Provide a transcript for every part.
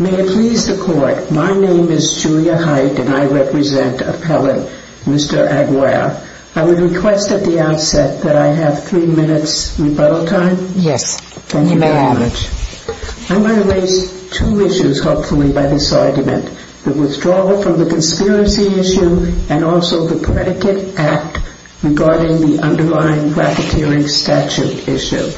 May it please the Court, my name is Julia Height and I represent Appellant Mr. Aguirre I would request at the outset that I have three minutes rebuttal time? Yes. Thank you very much. You may have. I'm going to raise two issues hopefully by this argument, the withdrawal from the conspiracy issue and also the predicate act regarding the underlying profiteering statute issue.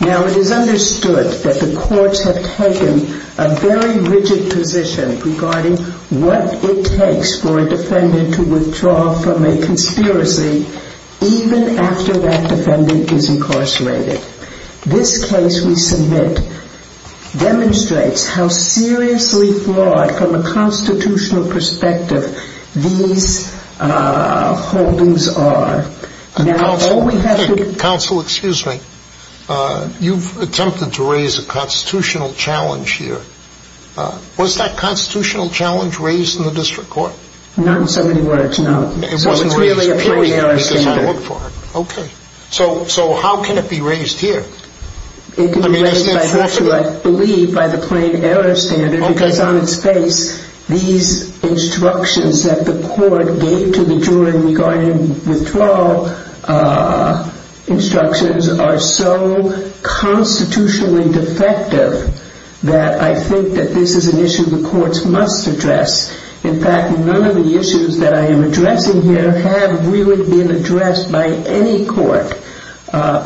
Now it is understood that the courts have taken a very rigid position regarding what it takes for a defendant to withdraw from a conspiracy even after that defendant is incarcerated. This case we submit demonstrates how seriously flawed from a constitutional perspective these holdings are. Counsel, excuse me, you've attempted to raise a constitutional challenge here. Was that constitutional challenge raised in the district court? Not in so many words, no. It wasn't raised here? It's really a plain error standard. Okay. So how can it be raised here? It can be raised I believe by the plain error standard because on its face these instructions that the court gave to the jury regarding withdrawal instructions are so constitutionally defective that I think that this is an issue the courts must address. In fact, none of the issues that I am addressing here have really been addressed by any court,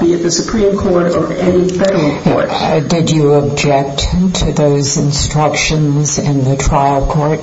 be it the Supreme Court or any federal court. Did you object to those instructions in the trial court?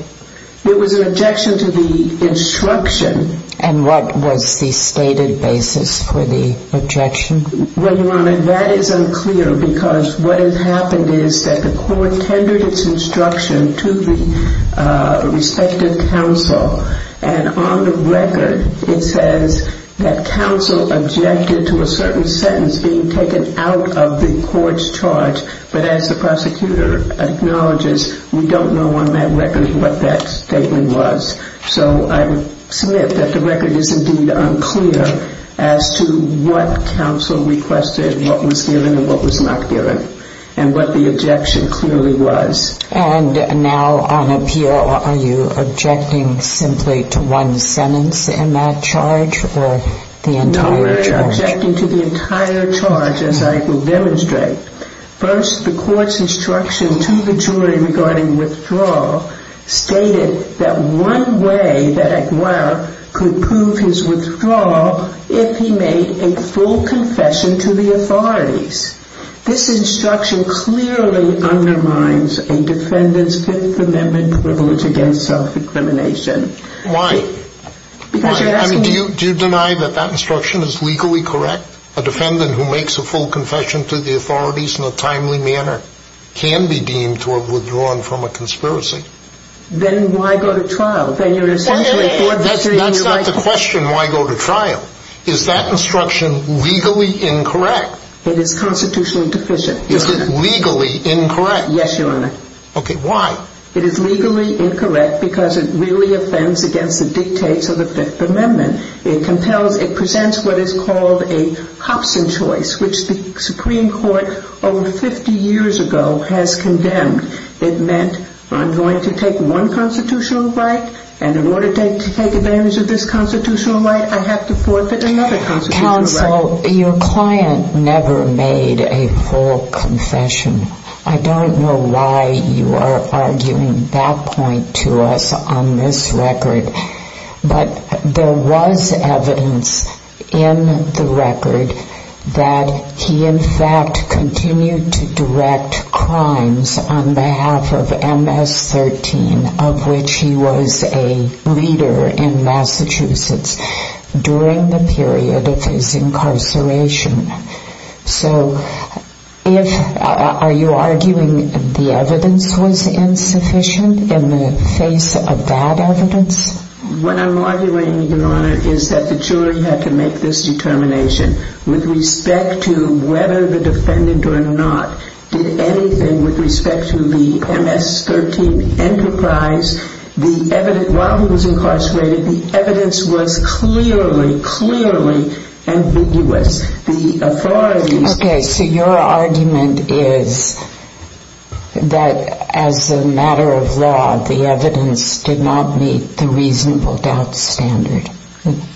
It was an objection to the instruction. And what was the stated basis for the objection? Well, Your Honor, that is unclear because what has happened is that the court tendered its instruction to the respective counsel and on the record it says that counsel objected to a certain sentence being taken out of the court's charge. But as the prosecutor acknowledges, we don't know on that record what that statement was. So I submit that the record is indeed unclear as to what counsel requested, what was given and what was not given and what the objection clearly was. And now on appeal are you objecting simply to one sentence in that charge or the entire charge? No, we're objecting to the entire charge as I will demonstrate. First, the court's instruction to the jury regarding withdrawal stated that one way that Aguirre could prove his withdrawal if he made a full confession to the authorities. This instruction clearly undermines a defendant's Fifth Amendment privilege against self-incrimination. Why? Do you deny that that instruction is legally correct? A defendant who makes a full confession to the authorities in a timely manner can be deemed to have withdrawn from a conspiracy. Then why go to trial? That's not the question, why go to trial. Is that instruction legally incorrect? It is constitutionally deficient. Is it legally incorrect? Yes, Your Honor. Okay, why? It is legally incorrect because it really offends against the dictates of the Fifth Amendment. It compels, it presents what is called a Hobson choice which the Supreme Court over 50 years ago has condemned. It meant I'm going to take one constitutional right and in order to take advantage of this constitutional right I have to forfeit another constitutional right. Counsel, your client never made a full confession. I don't know why you are arguing that point to us on this record. But there was evidence in the record that he in fact continued to direct crimes on behalf of MS-13 of which he was a leader in Massachusetts during the period of his incarceration. So are you arguing the evidence was insufficient in the face of that evidence? What I'm arguing, Your Honor, is that the jury had to make this determination with respect to whether the defendant or not did anything with respect to the MS-13 enterprise. While he was incarcerated, the evidence was clearly, clearly ambiguous. Okay, so your argument is that as a matter of law the evidence did not meet the reasonable doubt standard.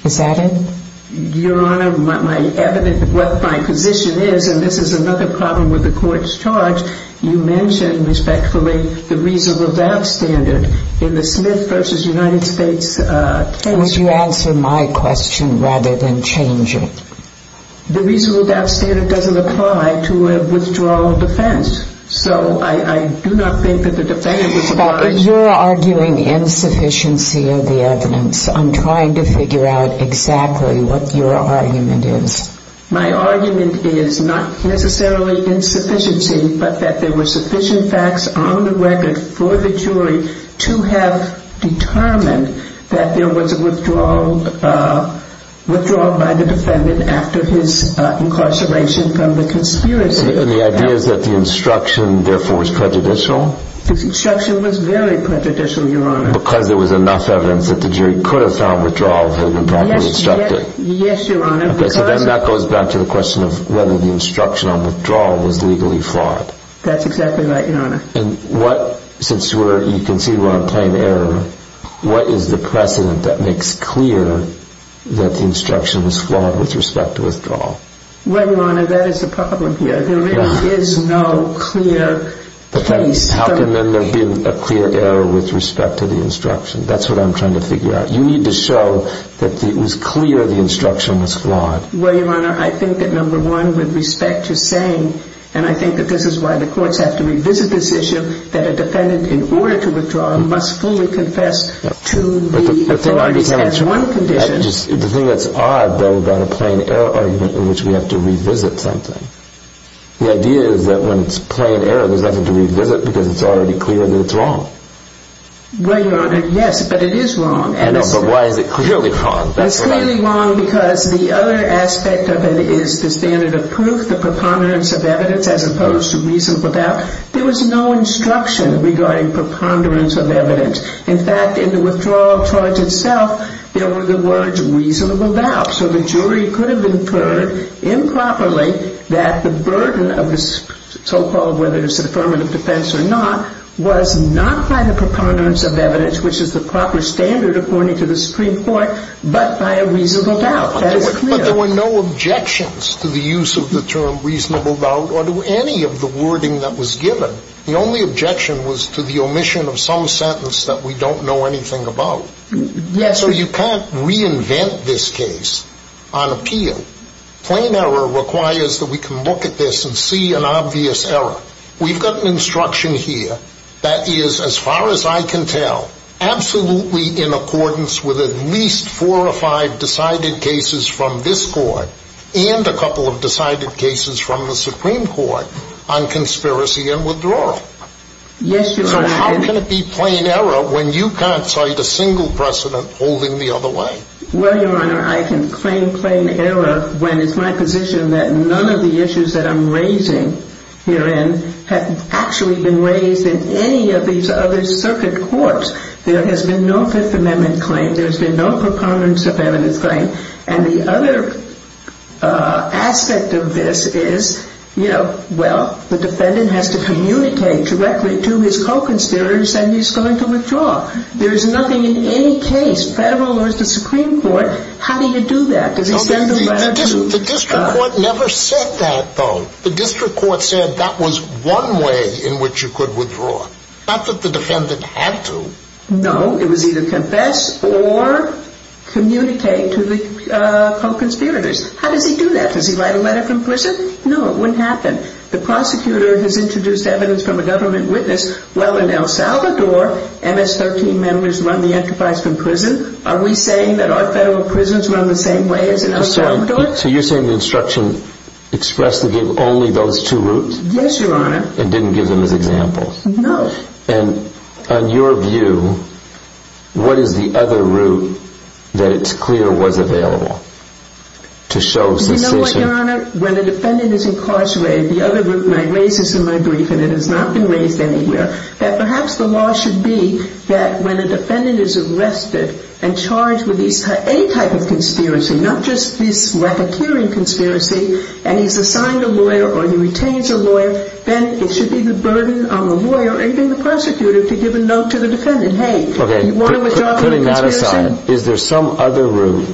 Is that it? Your Honor, my position is, and this is another problem with the court's charge, you mentioned respectfully the reasonable doubt standard in the Smith v. United States case. Why would you answer my question rather than change it? The reasonable doubt standard doesn't apply to a withdrawal of defense. So I do not think that the defendant was involved. But you're arguing insufficiency of the evidence. I'm trying to figure out exactly what your argument is. My argument is not necessarily insufficiency, but that there were sufficient facts on the record for the jury to have determined that there was a withdrawal by the defendant after his incarceration from the conspiracy. And the idea is that the instruction, therefore, was prejudicial? The instruction was very prejudicial, Your Honor. Because there was enough evidence that the jury could have found withdrawal had it not been instructed? Yes, Your Honor. Okay, so then that goes back to the question of whether the instruction on withdrawal was legally flawed. That's exactly right, Your Honor. And what, since you can see we're on plain error, what is the precedent that makes clear that the instruction was flawed with respect to withdrawal? Well, Your Honor, that is the problem here. There really is no clear case. How can then there be a clear error with respect to the instruction? That's what I'm trying to figure out. You need to show that it was clear the instruction was flawed. Well, Your Honor, I think that, number one, with respect to saying, and I think that this is why the courts have to revisit this issue, that a defendant, in order to withdraw, must fully confess to the authorities as one condition. The thing that's odd, though, about a plain error argument in which we have to revisit something, the idea is that when it's plain error, there's nothing to revisit because it's already clear that it's wrong. Well, Your Honor, yes, but it is wrong. I know, but why is it clearly wrong? It's clearly wrong because the other aspect of it is the standard of proof, the preponderance of evidence, as opposed to reasonable doubt. There was no instruction regarding preponderance of evidence. In fact, in the withdrawal charge itself, there were the words reasonable doubt. So the jury could have inferred improperly that the burden of the so-called, whether it's an affirmative defense or not, was not by the preponderance of evidence, which is the proper standard according to the Supreme Court, but by a reasonable doubt. That is clear. But there were no objections to the use of the term reasonable doubt or to any of the wording that was given. The only objection was to the omission of some sentence that we don't know anything about. Yes. So you can't reinvent this case on appeal. Plain error requires that we can look at this and see an obvious error. We've got an instruction here that is, as far as I can tell, absolutely in accordance with at least four or five decided cases from this court and a couple of decided cases from the Supreme Court on conspiracy and withdrawal. Yes, Your Honor. So how can it be plain error when you can't cite a single precedent holding the other way? Well, Your Honor, I can claim plain error when it's my position that none of the issues that I'm raising herein have actually been raised in any of these other circuit courts. There has been no Fifth Amendment claim. There has been no preponderance of evidence claim. And the other aspect of this is, you know, well, the defendant has to communicate directly to his co-conspirators and he's going to withdraw. There is nothing in any case, federal or the Supreme Court, how do you do that? The district court never said that, though. The district court said that was one way in which you could withdraw. Not that the defendant had to. No, it was either confess or communicate to the co-conspirators. How does he do that? Does he write a letter from prison? No, it wouldn't happen. The prosecutor has introduced evidence from a government witness. Well, in El Salvador, MS-13 members run the enterprise from prison. Are we saying that our federal prisons run the same way as in El Salvador? So you're saying the instruction expressed to give only those two routes? Yes, Your Honor. And didn't give them as examples? No. And on your view, what is the other route that it's clear was available to show suspicion? You know what, Your Honor? When a defendant is incarcerated, the other route, and I raise this in my brief, and it has not been raised anywhere, that perhaps the law should be that when a defendant is arrested and charged with any type of conspiracy, not just this racketeering conspiracy, and he's assigned a lawyer or he retains a lawyer, then it should be the burden on the lawyer or even the prosecutor to give a note to the defendant. Hey, you want to withdraw from the conspiracy? Putting that aside, is there some other route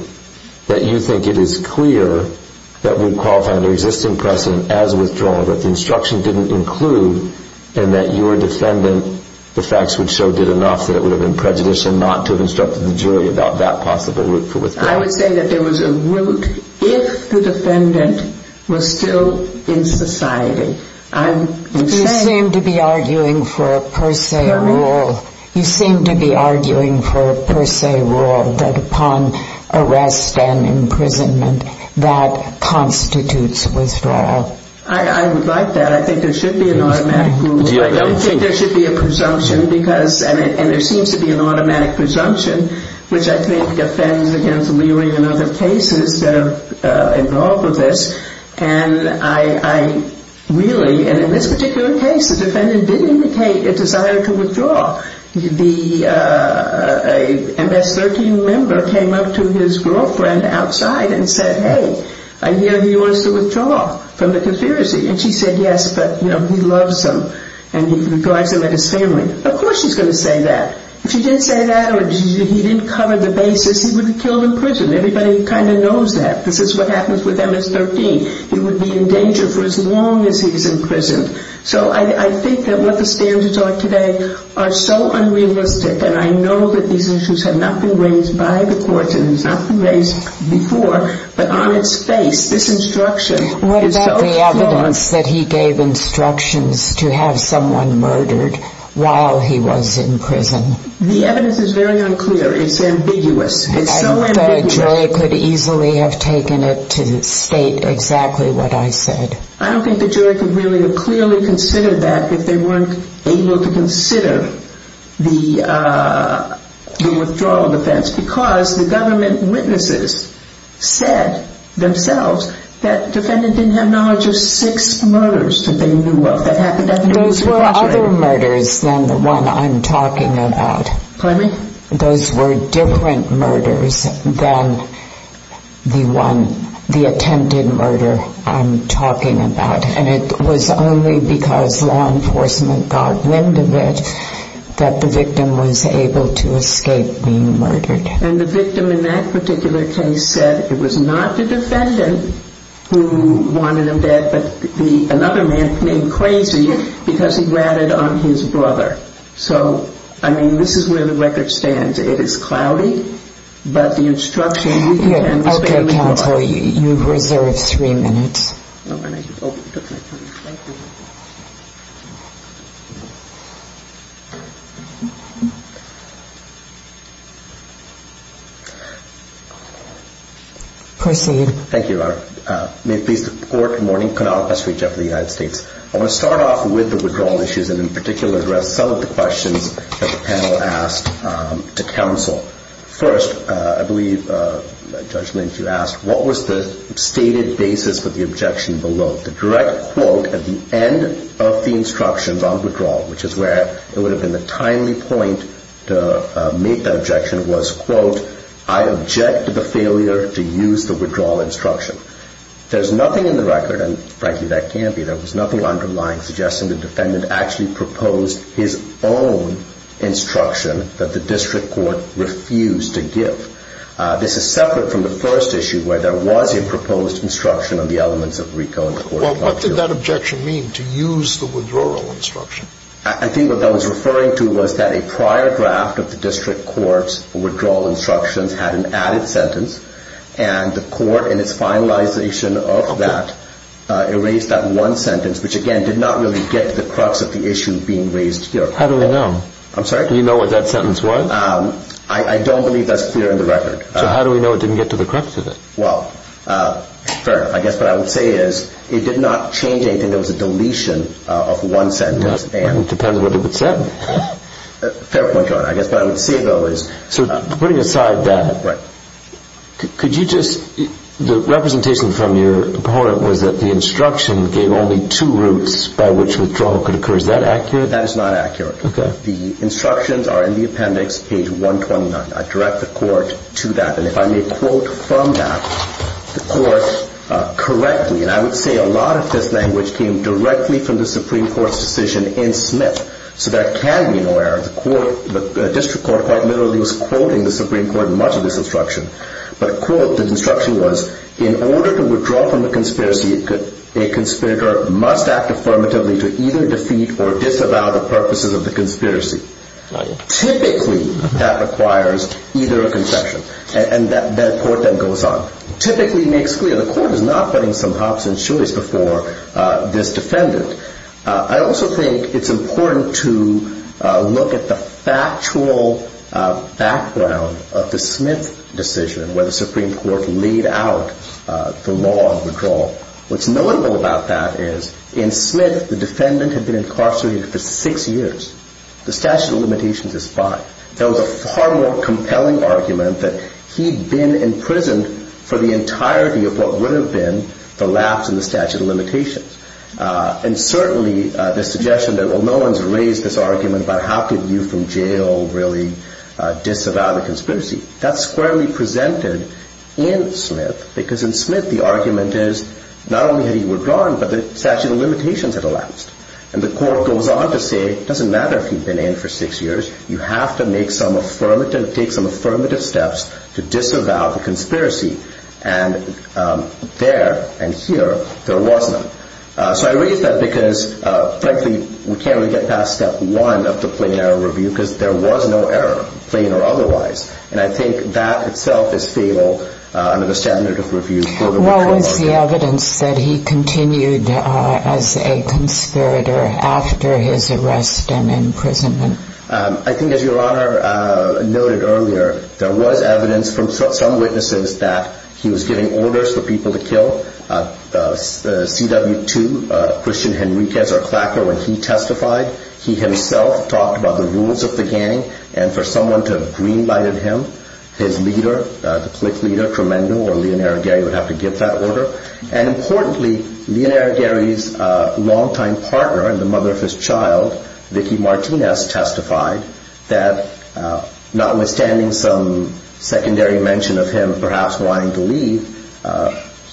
that you think it is clear that would qualify under existing precedent as withdrawal, that the instruction didn't include, and that your defendant, the facts would show, did enough that it would have been prejudicial not to have instructed the jury about that possible route for withdrawal? I would say that there was a route if the defendant was still in society. You seem to be arguing for a per se rule. Correct. You seem to be arguing for a per se rule that upon arrest and imprisonment, that constitutes withdrawal. I would like that. I think there should be an automatic rule. I don't think there should be a presumption, and there seems to be an automatic presumption, which I think offends against Leary and other cases that are involved with this. And I really, and in this particular case, the defendant did indicate a desire to withdraw. The MS-13 member came up to his girlfriend outside and said, hey, I hear you want us to withdraw from the conspiracy. And she said, yes, but, you know, he loves him and he regards him as his family. Of course she's going to say that. If she didn't say that or he didn't cover the basis, he would be killed in prison. Everybody kind of knows that. This is what happens with MS-13. He would be in danger for as long as he's imprisoned. So I think that what the standards are today are so unrealistic, and I know that these issues have not been raised by the courts and have not been raised before, but on its face, this instruction is so flawed. What about the evidence that he gave instructions to have someone murdered while he was in prison? The evidence is very unclear. It's ambiguous. It's so ambiguous. And the jury could easily have taken it to state exactly what I said. I don't think the jury could really have clearly considered that if they weren't able to consider the withdrawal offense just because the government witnesses said themselves that the defendant didn't have knowledge of six murders that they knew of. Those were other murders than the one I'm talking about. Claiming? Those were different murders than the one, the attempted murder I'm talking about, and it was only because law enforcement got wind of it that the victim was able to escape being murdered. And the victim in that particular case said it was not the defendant who wanted him dead but another man named Crazy because he ratted on his brother. So, I mean, this is where the record stands. It is cloudy, but the instruction he gave was very clear. Okay, counsel, you've reserved three minutes. Thank you. Proceed. Thank you, Your Honor. May it please the Court, good morning. Kunal, best regards to the United States. I want to start off with the withdrawal issues and in particular address some of the questions that the panel asked to counsel. First, I believe, Judge Lynch, you asked, what was the stated basis for the objection below? The direct quote at the end of the instructions on withdrawal, which is where it would have been the timely point to make that objection, was, quote, I object to the failure to use the withdrawal instruction. There's nothing in the record, and frankly that can't be, there was nothing underlying suggesting the defendant actually proposed his own instruction that the district court refused to give. This is separate from the first issue where there was a proposed instruction on the elements of RICO. Well, what did that objection mean, to use the withdrawal instruction? I think what that was referring to was that a prior draft of the district court's withdrawal instructions had an added sentence, and the court in its finalization of that erased that one sentence, which, again, did not really get to the crux of the issue being raised here. How do we know? I'm sorry? Do you know what that sentence was? I don't believe that's clear in the record. So how do we know it didn't get to the crux of it? Well, fair enough. I guess what I would say is it did not change anything. There was a deletion of one sentence. It depends what it would say. Fair point, Your Honor. I guess what I would say, though, is. So putting aside that, could you just, the representation from your opponent was that the instruction gave only two routes by which withdrawal could occur. Is that accurate? That is not accurate. The instructions are in the appendix, page 129. I direct the court to that. And if I may quote from that, the court correctly, and I would say a lot of this language came directly from the Supreme Court's decision in Smith, so there can be no error. The district court quite literally was quoting the Supreme Court in much of this instruction. But the quote, the instruction was, In order to withdraw from the conspiracy, a conspirator must act affirmatively to either defeat or disavow the purposes of the conspiracy. Typically, that requires either a concession. And that quote then goes on. Typically makes clear the court is not putting some hops and shoes before this defendant. I also think it's important to look at the factual background of the Smith decision, where the Supreme Court laid out the law of withdrawal. What's notable about that is, in Smith, the defendant had been incarcerated for six years. The statute of limitations is fine. There was a far more compelling argument that he'd been imprisoned for the entirety of what would have been the lapse in the statute of limitations. And certainly the suggestion that, well, no one's raised this argument about how could you from jail really disavow the conspiracy, that's squarely presented in Smith, because in Smith, the argument is not only had he withdrawn, but the statute of limitations had elapsed. And the court goes on to say it doesn't matter if he'd been in for six years. You have to make some affirmative, take some affirmative steps to disavow the conspiracy. And there and here, there wasn't. So I raise that because, frankly, we can't really get past step one of the plain error review, because there was no error, plain or otherwise. And I think that itself is fable under the standard of review. What was the evidence that he continued as a conspirator after his arrest and imprisonment? I think, as Your Honor noted earlier, there was evidence from some witnesses that he was giving orders for people to kill. CW2, Christian Henriquez, our clacker, when he testified, he himself talked about the rules of the gang. And for someone to have green-lighted him, his leader, the clique leader, Tremendo or Leonardo Gary, would have to give that order. And importantly, Leonardo Gary's longtime partner and the mother of his child, Vicky Martinez, testified that, notwithstanding some secondary mention of him perhaps wanting to leave,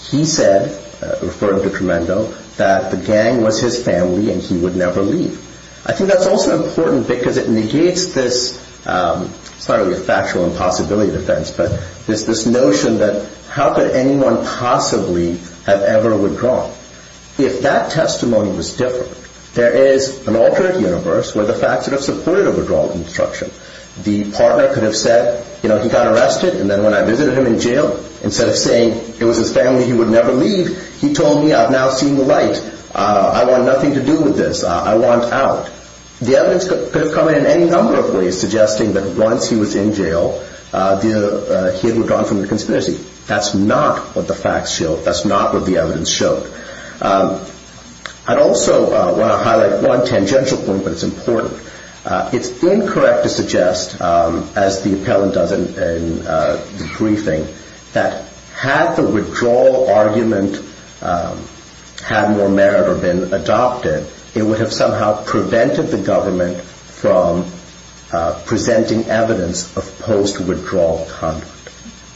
he said, referring to Tremendo, that the gang was his family and he would never leave. I think that's also important because it negates this, it's not really a factual impossibility defense, but it's this notion that how could anyone possibly have ever withdrawn? If that testimony was different, there is an alternate universe where the facts would have supported a withdrawal instruction. The partner could have said, you know, he got arrested, and then when I visited him in jail, instead of saying it was his family, he would never leave, he told me, I've now seen the light. I want nothing to do with this. I want out. The evidence could have come in any number of ways, suggesting that once he was in jail, he had withdrawn from the conspiracy. That's not what the facts showed. That's not what the evidence showed. I'd also want to highlight one tangential point, but it's important. It's incorrect to suggest, as the appellant does in the briefing, that had the withdrawal argument had more merit or been adopted, it would have somehow prevented the government from presenting evidence of post-withdrawal conduct.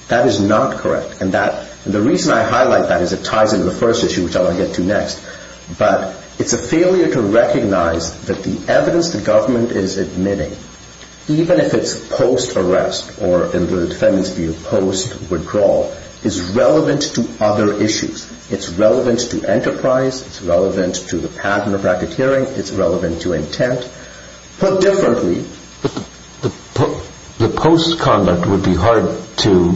That is not correct, and the reason I highlight that is it ties into the first issue, which I'll get to next. But it's a failure to recognize that the evidence the government is admitting, even if it's post-arrest or, in the defendant's view, post-withdrawal, is relevant to other issues. It's relevant to enterprise. It's relevant to the pattern of racketeering. It's relevant to intent. Put differently... But the post-conduct would be hard to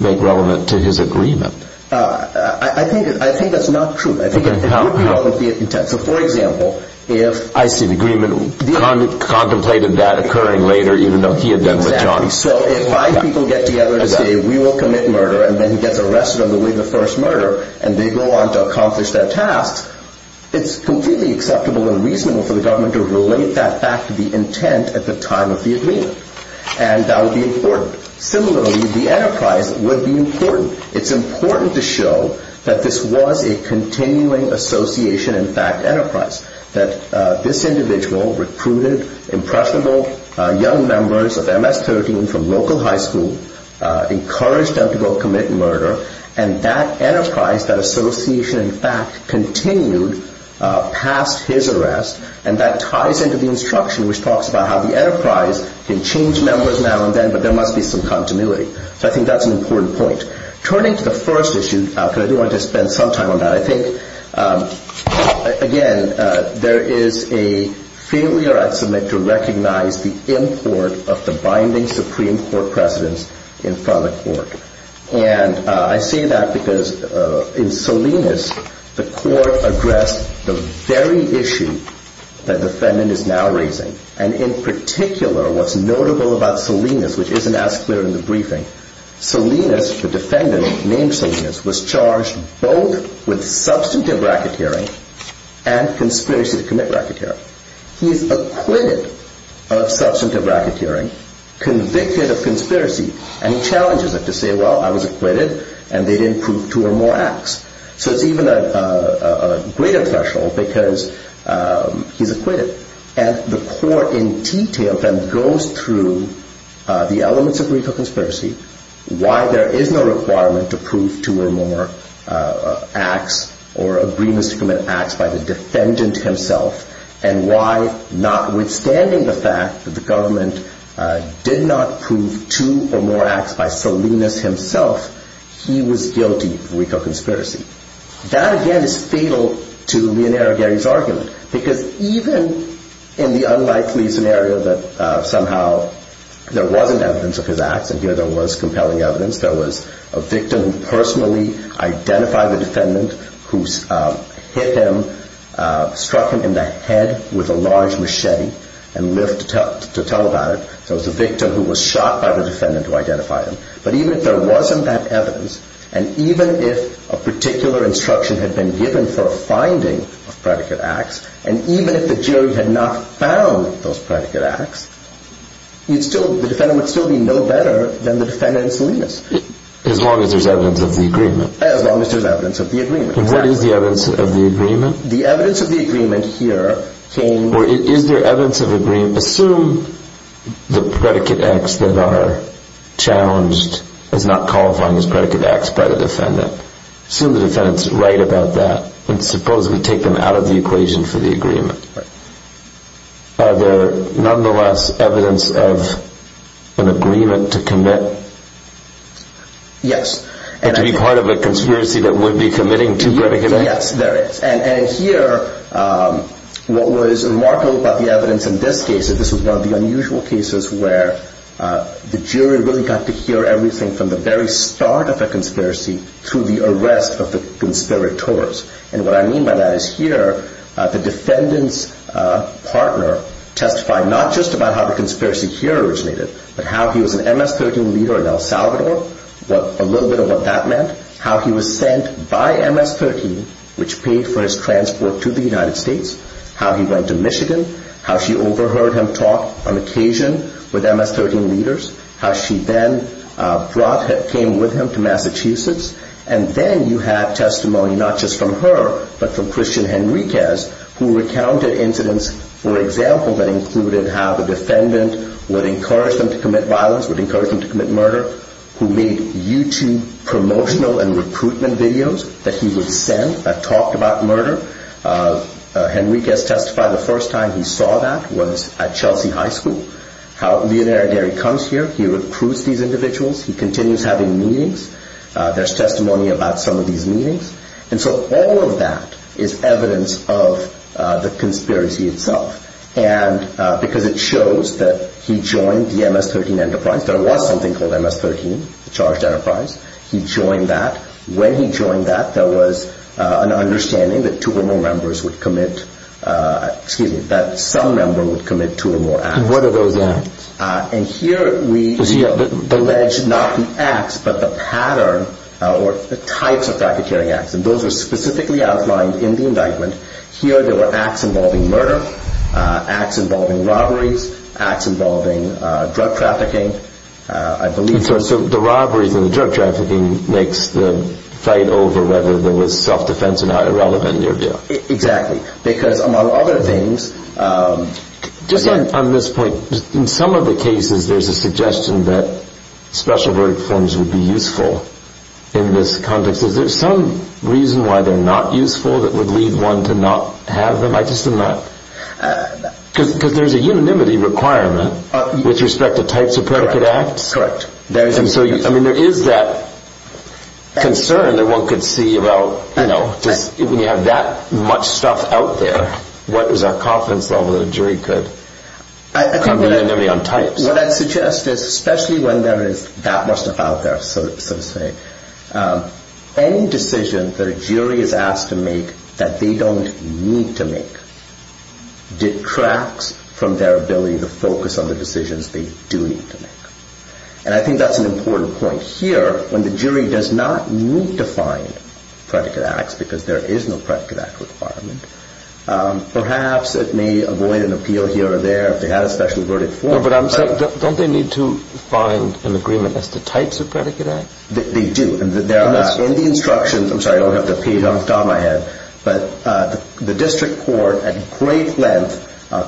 make relevant to his agreement. I think that's not true. I think it would be relevant to the intent. So, for example, if... I see. The agreement contemplated that occurring later, even though he had been with John. So if five people get together to say, we will commit murder, and then he gets arrested on the way to the first murder, and they go on to accomplish their task, it's completely acceptable and reasonable for the government to relate that back to the intent at the time of the agreement. And that would be important. Similarly, the enterprise would be important. It's important to show that this was a continuing association and fact enterprise, that this individual recruited impressionable young members of MS-13 from local high school, encouraged them to go commit murder, and that enterprise, that association, in fact, continued past his arrest. And that ties into the instruction, which talks about how the enterprise can change members now and then, but there must be some continuity. So I think that's an important point. Turning to the first issue, because I do want to spend some time on that, I think, again, there is a failure, I'd submit, to recognize the import of the binding Supreme Court precedents in front of court. And I say that because in Salinas, the court addressed the very issue that the defendant is now raising. And in particular, what's notable about Salinas, which isn't as clear in the briefing, Salinas, the defendant named Salinas, was charged both with substantive racketeering and conspiracy to commit racketeering. He's acquitted of substantive racketeering, convicted of conspiracy, and he challenges it to say, well, I was acquitted, and they didn't prove two or more acts. So it's even a greater threshold because he's acquitted. And the court, in detail, then goes through the elements of recalconspiracy, why there is no requirement to prove two or more acts or agreements to commit acts by the defendant himself, and why, notwithstanding the fact that the government did not prove two or more acts by Salinas himself, he was guilty of recalconspiracy. That, again, is fatal to Leonardo Gary's argument because even in the unlikely scenario that somehow there wasn't evidence of his acts, and here there was compelling evidence, there was a victim who personally identified the defendant who hit him, struck him in the head with a large machete and lived to tell about it. There was a victim who was shot by the defendant who identified him. But even if there wasn't that evidence, and even if a particular instruction had been given for a finding of predicate acts, and even if the jury had not found those predicate acts, the defendant would still be no better than the defendant in Salinas. As long as there's evidence of the agreement. As long as there's evidence of the agreement. And what is the evidence of the agreement? The evidence of the agreement here came... Or is there evidence of agreement? Assume the predicate acts that are challenged as not qualifying as predicate acts by the defendant. Assume the defendant's right about that. And suppose we take them out of the equation for the agreement. Are there nonetheless evidence of an agreement to commit? Yes. And to be part of a conspiracy that would be committing two predicate acts? Yes, there is. And here, what was remarkable about the evidence in this case, this was one of the unusual cases where the jury really got to hear everything from the very start of a conspiracy through the arrest of the conspirators. And what I mean by that is here, the defendant's partner testified not just about how the conspiracy here originated, but how he was an MS-13 leader in El Salvador, a little bit of what that meant, how he was sent by MS-13, which paid for his transport to the United States, how he went to Michigan, how she overheard him talk on occasion with MS-13 leaders, how she then came with him to Massachusetts. And then you have testimony not just from her, but from Christian Henriquez, who recounted incidents, for example, that included how the defendant would encourage them to commit violence, would encourage them to commit murder, who made YouTube promotional and recruitment videos that he would send that talked about murder. Henriquez testified the first time he saw that was at Chelsea High School, how Leonardo Derry comes here, he recruits these individuals, he continues having meetings. There's testimony about some of these meetings. And so all of that is evidence of the conspiracy itself. And because it shows that he joined the MS-13 enterprise. There was something called MS-13, the charged enterprise. He joined that. When he joined that, there was an understanding that two or more members would commit, excuse me, that some member would commit two or more acts. And what are those acts? And here we allege not the acts, but the pattern or the types of racketeering acts. And those are specifically outlined in the indictment. Here there were acts involving murder, acts involving robberies, acts involving drug trafficking, I believe. So the robberies and the drug trafficking makes the fight over whether there was self-defense or not irrelevant in your view. Exactly. Because among other things. Just on this point, in some of the cases there's a suggestion that special verdict forms would be useful in this context. Is there some reason why they're not useful that would lead one to not have them? I just am not. Because there's a unanimity requirement with respect to types of predicate acts. Correct. And so there is that concern that one could see about, you know, when you have that much stuff out there, what is our confidence level that a jury could come to unanimity on types? What I'd suggest is especially when there is that much stuff out there, so to say, any decision that a jury is asked to make that they don't need to make detracts from their ability to focus on the decisions they do need to make. And I think that's an important point here. When the jury does not need to find predicate acts because there is no predicate act requirement, perhaps it may avoid an appeal here or there if they had a special verdict form. But don't they need to find an agreement as to types of predicate acts? They do. And in the instructions, I'm sorry, I don't have the page on my hand, but the district court at great length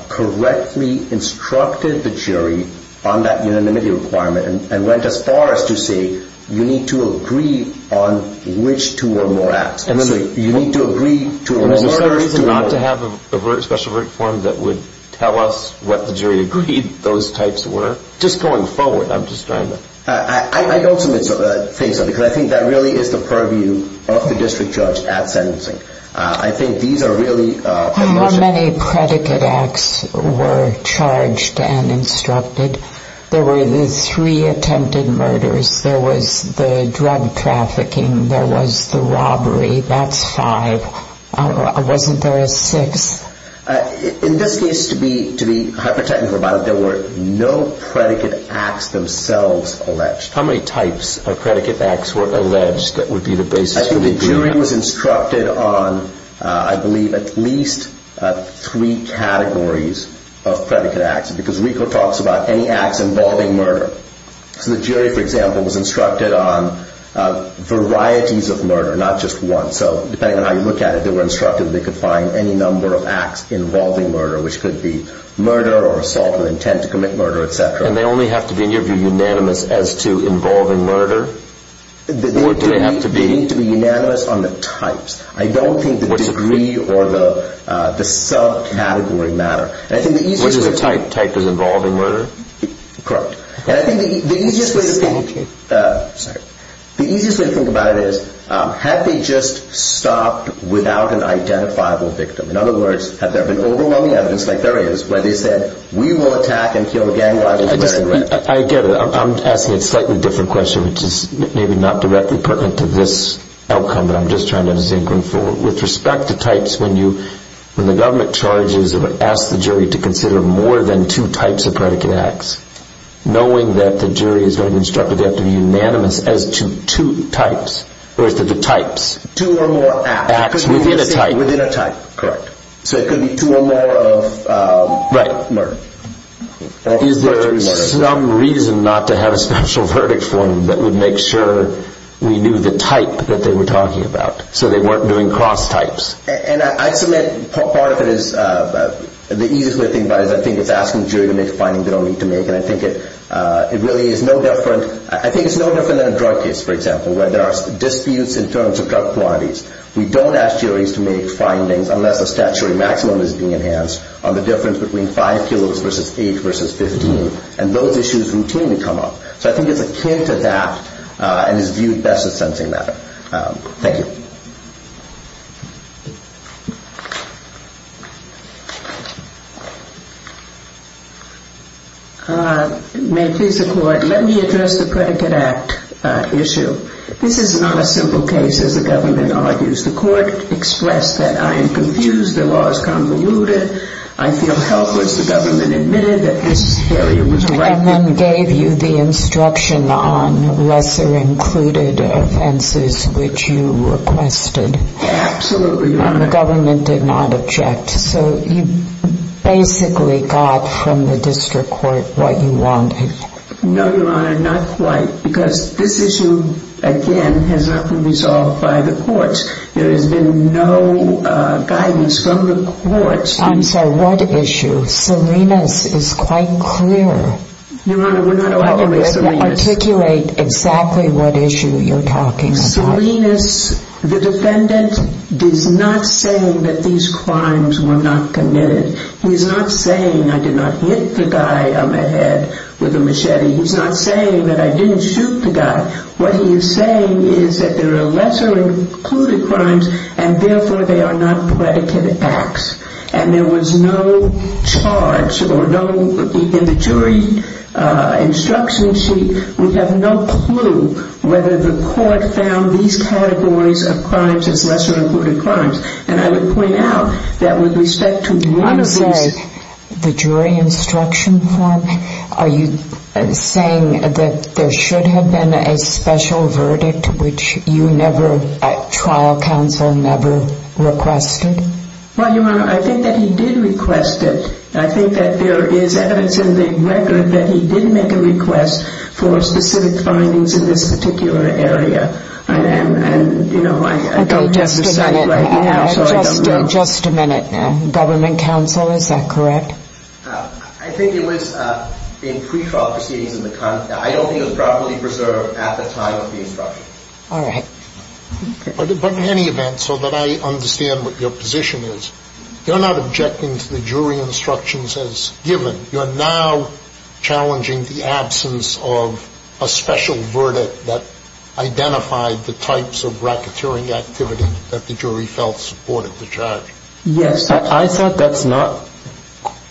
correctly instructed the jury on that unanimity requirement and went as far as to say you need to agree on which two or more acts. Is there a reason not to have a special verdict form that would tell us what the jury agreed those types were? Just going forward, I'm just trying to... I don't think so because I think that really is the purview of the district judge at sentencing. I think these are really... How many predicate acts were charged and instructed? There were the three attempted murders. There was the drug trafficking. There was the robbery. That's five. Wasn't there a sixth? In this case, to be hyper-technical about it, there were no predicate acts themselves alleged. How many types of predicate acts were alleged that would be the basis for the jury? I think the jury was instructed on, I believe, at least three categories of predicate acts because RICO talks about any acts involving murder. So the jury, for example, was instructed on varieties of murder, not just one. So depending on how you look at it, they were instructed that they could find any number of acts involving murder, which could be murder or assault with intent to commit murder, et cetera. And they only have to be, in your view, unanimous as to involving murder? Or do they have to be? They need to be unanimous on the types. I don't think the degree or the subcategory matter. Which type is involving murder? Correct. And I think the easiest way to think about it is, have they just stopped without an identifiable victim? In other words, have there been overwhelming evidence, like there is, where they said, we will attack and kill again while there's murder in the record? I get it. I'm asking a slightly different question, which is maybe not directly pertinent to this outcome, but I'm just trying to zinc them forward. With respect to types, when the government charges or asks the jury to consider more than two types of predicate acts, knowing that the jury is going to be instructed they have to be unanimous as to two types, or as to the types. Two or more acts. Acts within a type. Within a type. Correct. So it could be two or more of murder. Is there some reason not to have a special verdict for them that would make sure we knew the type that they were talking about, so they weren't doing cross types? And I submit part of it is, the easiest way to think about it is, I think it's asking the jury to make findings they don't need to make, and I think it really is no different than a drug case, for example, where there are disputes in terms of drug quantities. We don't ask juries to make findings, unless a statutory maximum is being enhanced, on the difference between 5 kilos versus 8 versus 15, and those issues routinely come up. So I think it's akin to that, and is viewed best as sensing that. Thank you. May it please the Court. Let me address the Predicate Act issue. This is not a simple case, as the government argues. The Court expressed that I am confused, the law is convoluted, I feel helpless. The government admitted that this area was right. And then gave you the instruction on lesser included offenses, which you requested. Absolutely. And the government did not object. So you basically got from the district court what you wanted. No, Your Honor, not quite. Because this issue, again, has not been resolved by the courts. There has been no guidance from the courts. I'm sorry, what issue? Salinas is quite clear. Your Honor, we're not allowing Salinas. Articulate exactly what issue you're talking about. Salinas, the defendant, is not saying that these crimes were not committed. He's not saying I did not hit the guy on the head with a machete. He's not saying that I didn't shoot the guy. What he is saying is that there are lesser included crimes, and therefore they are not predicate acts. And there was no charge, or no, in the jury instruction sheet, we have no clue whether the court found these categories of crimes as lesser included crimes. And I would point out that with respect to one of these – You want to say the jury instruction form? Are you saying that there should have been a special verdict, which you never, at trial counsel, never requested? Well, Your Honor, I think that he did request it. I think that there is evidence in the record that he did make a request for specific findings in this particular area. And, you know, I don't have to say right now. Just a minute. Government counsel, is that correct? I think it was in pre-trial proceedings in the – I don't think it was properly preserved at the time of the instruction. All right. But in any event, so that I understand what your position is, you're not objecting to the jury instructions as given. You're now challenging the absence of a special verdict that identified the types of racketeering activity that the jury felt supported the charge. Yes. I thought that's not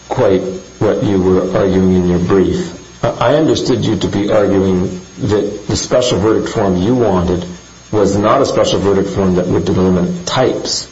quite what you were arguing in your brief. I understood you to be arguing that the special verdict form you wanted was not a special verdict form that would delimit types.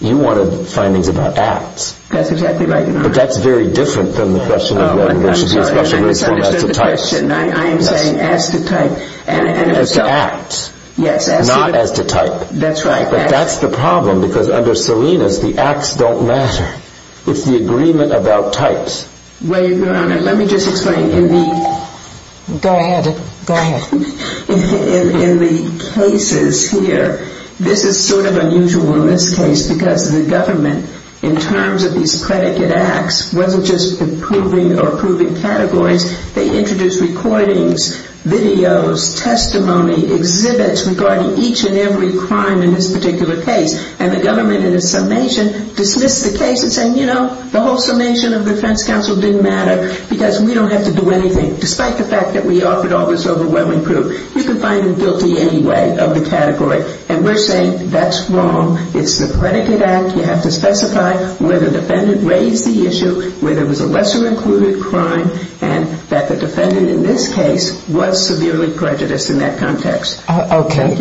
You wanted findings about acts. That's exactly right, Your Honor. But that's very different than the question of whether there should be a special verdict form as to types. I understand the question. I am saying as to type. As to acts. Yes. Not as to type. That's right. But that's the problem because under Salinas, the acts don't matter. It's the agreement about types. Well, Your Honor, let me just explain in the – Go ahead. Go ahead. In the cases here, this is sort of unusual in this case because the government, in terms of these predicate acts, wasn't just approving or approving categories. They introduced recordings, videos, testimony, exhibits regarding each and every crime in this particular case. And the government, in its summation, dismissed the case and said, you know, the whole summation of the defense counsel didn't matter because we don't have to do anything, despite the fact that we offered all this overwhelming proof. You can find them guilty anyway of the category. And we're saying that's wrong. It's the predicate act. You have to specify where the defendant raised the issue, where there was a lesser included crime, and that the defendant in this case was severely prejudiced in that context. Okay. Thank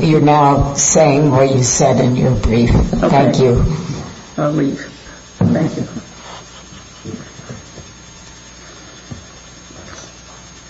you. You're now saying what you said in your brief. Thank you. I'll leave. Thank you. Thank you.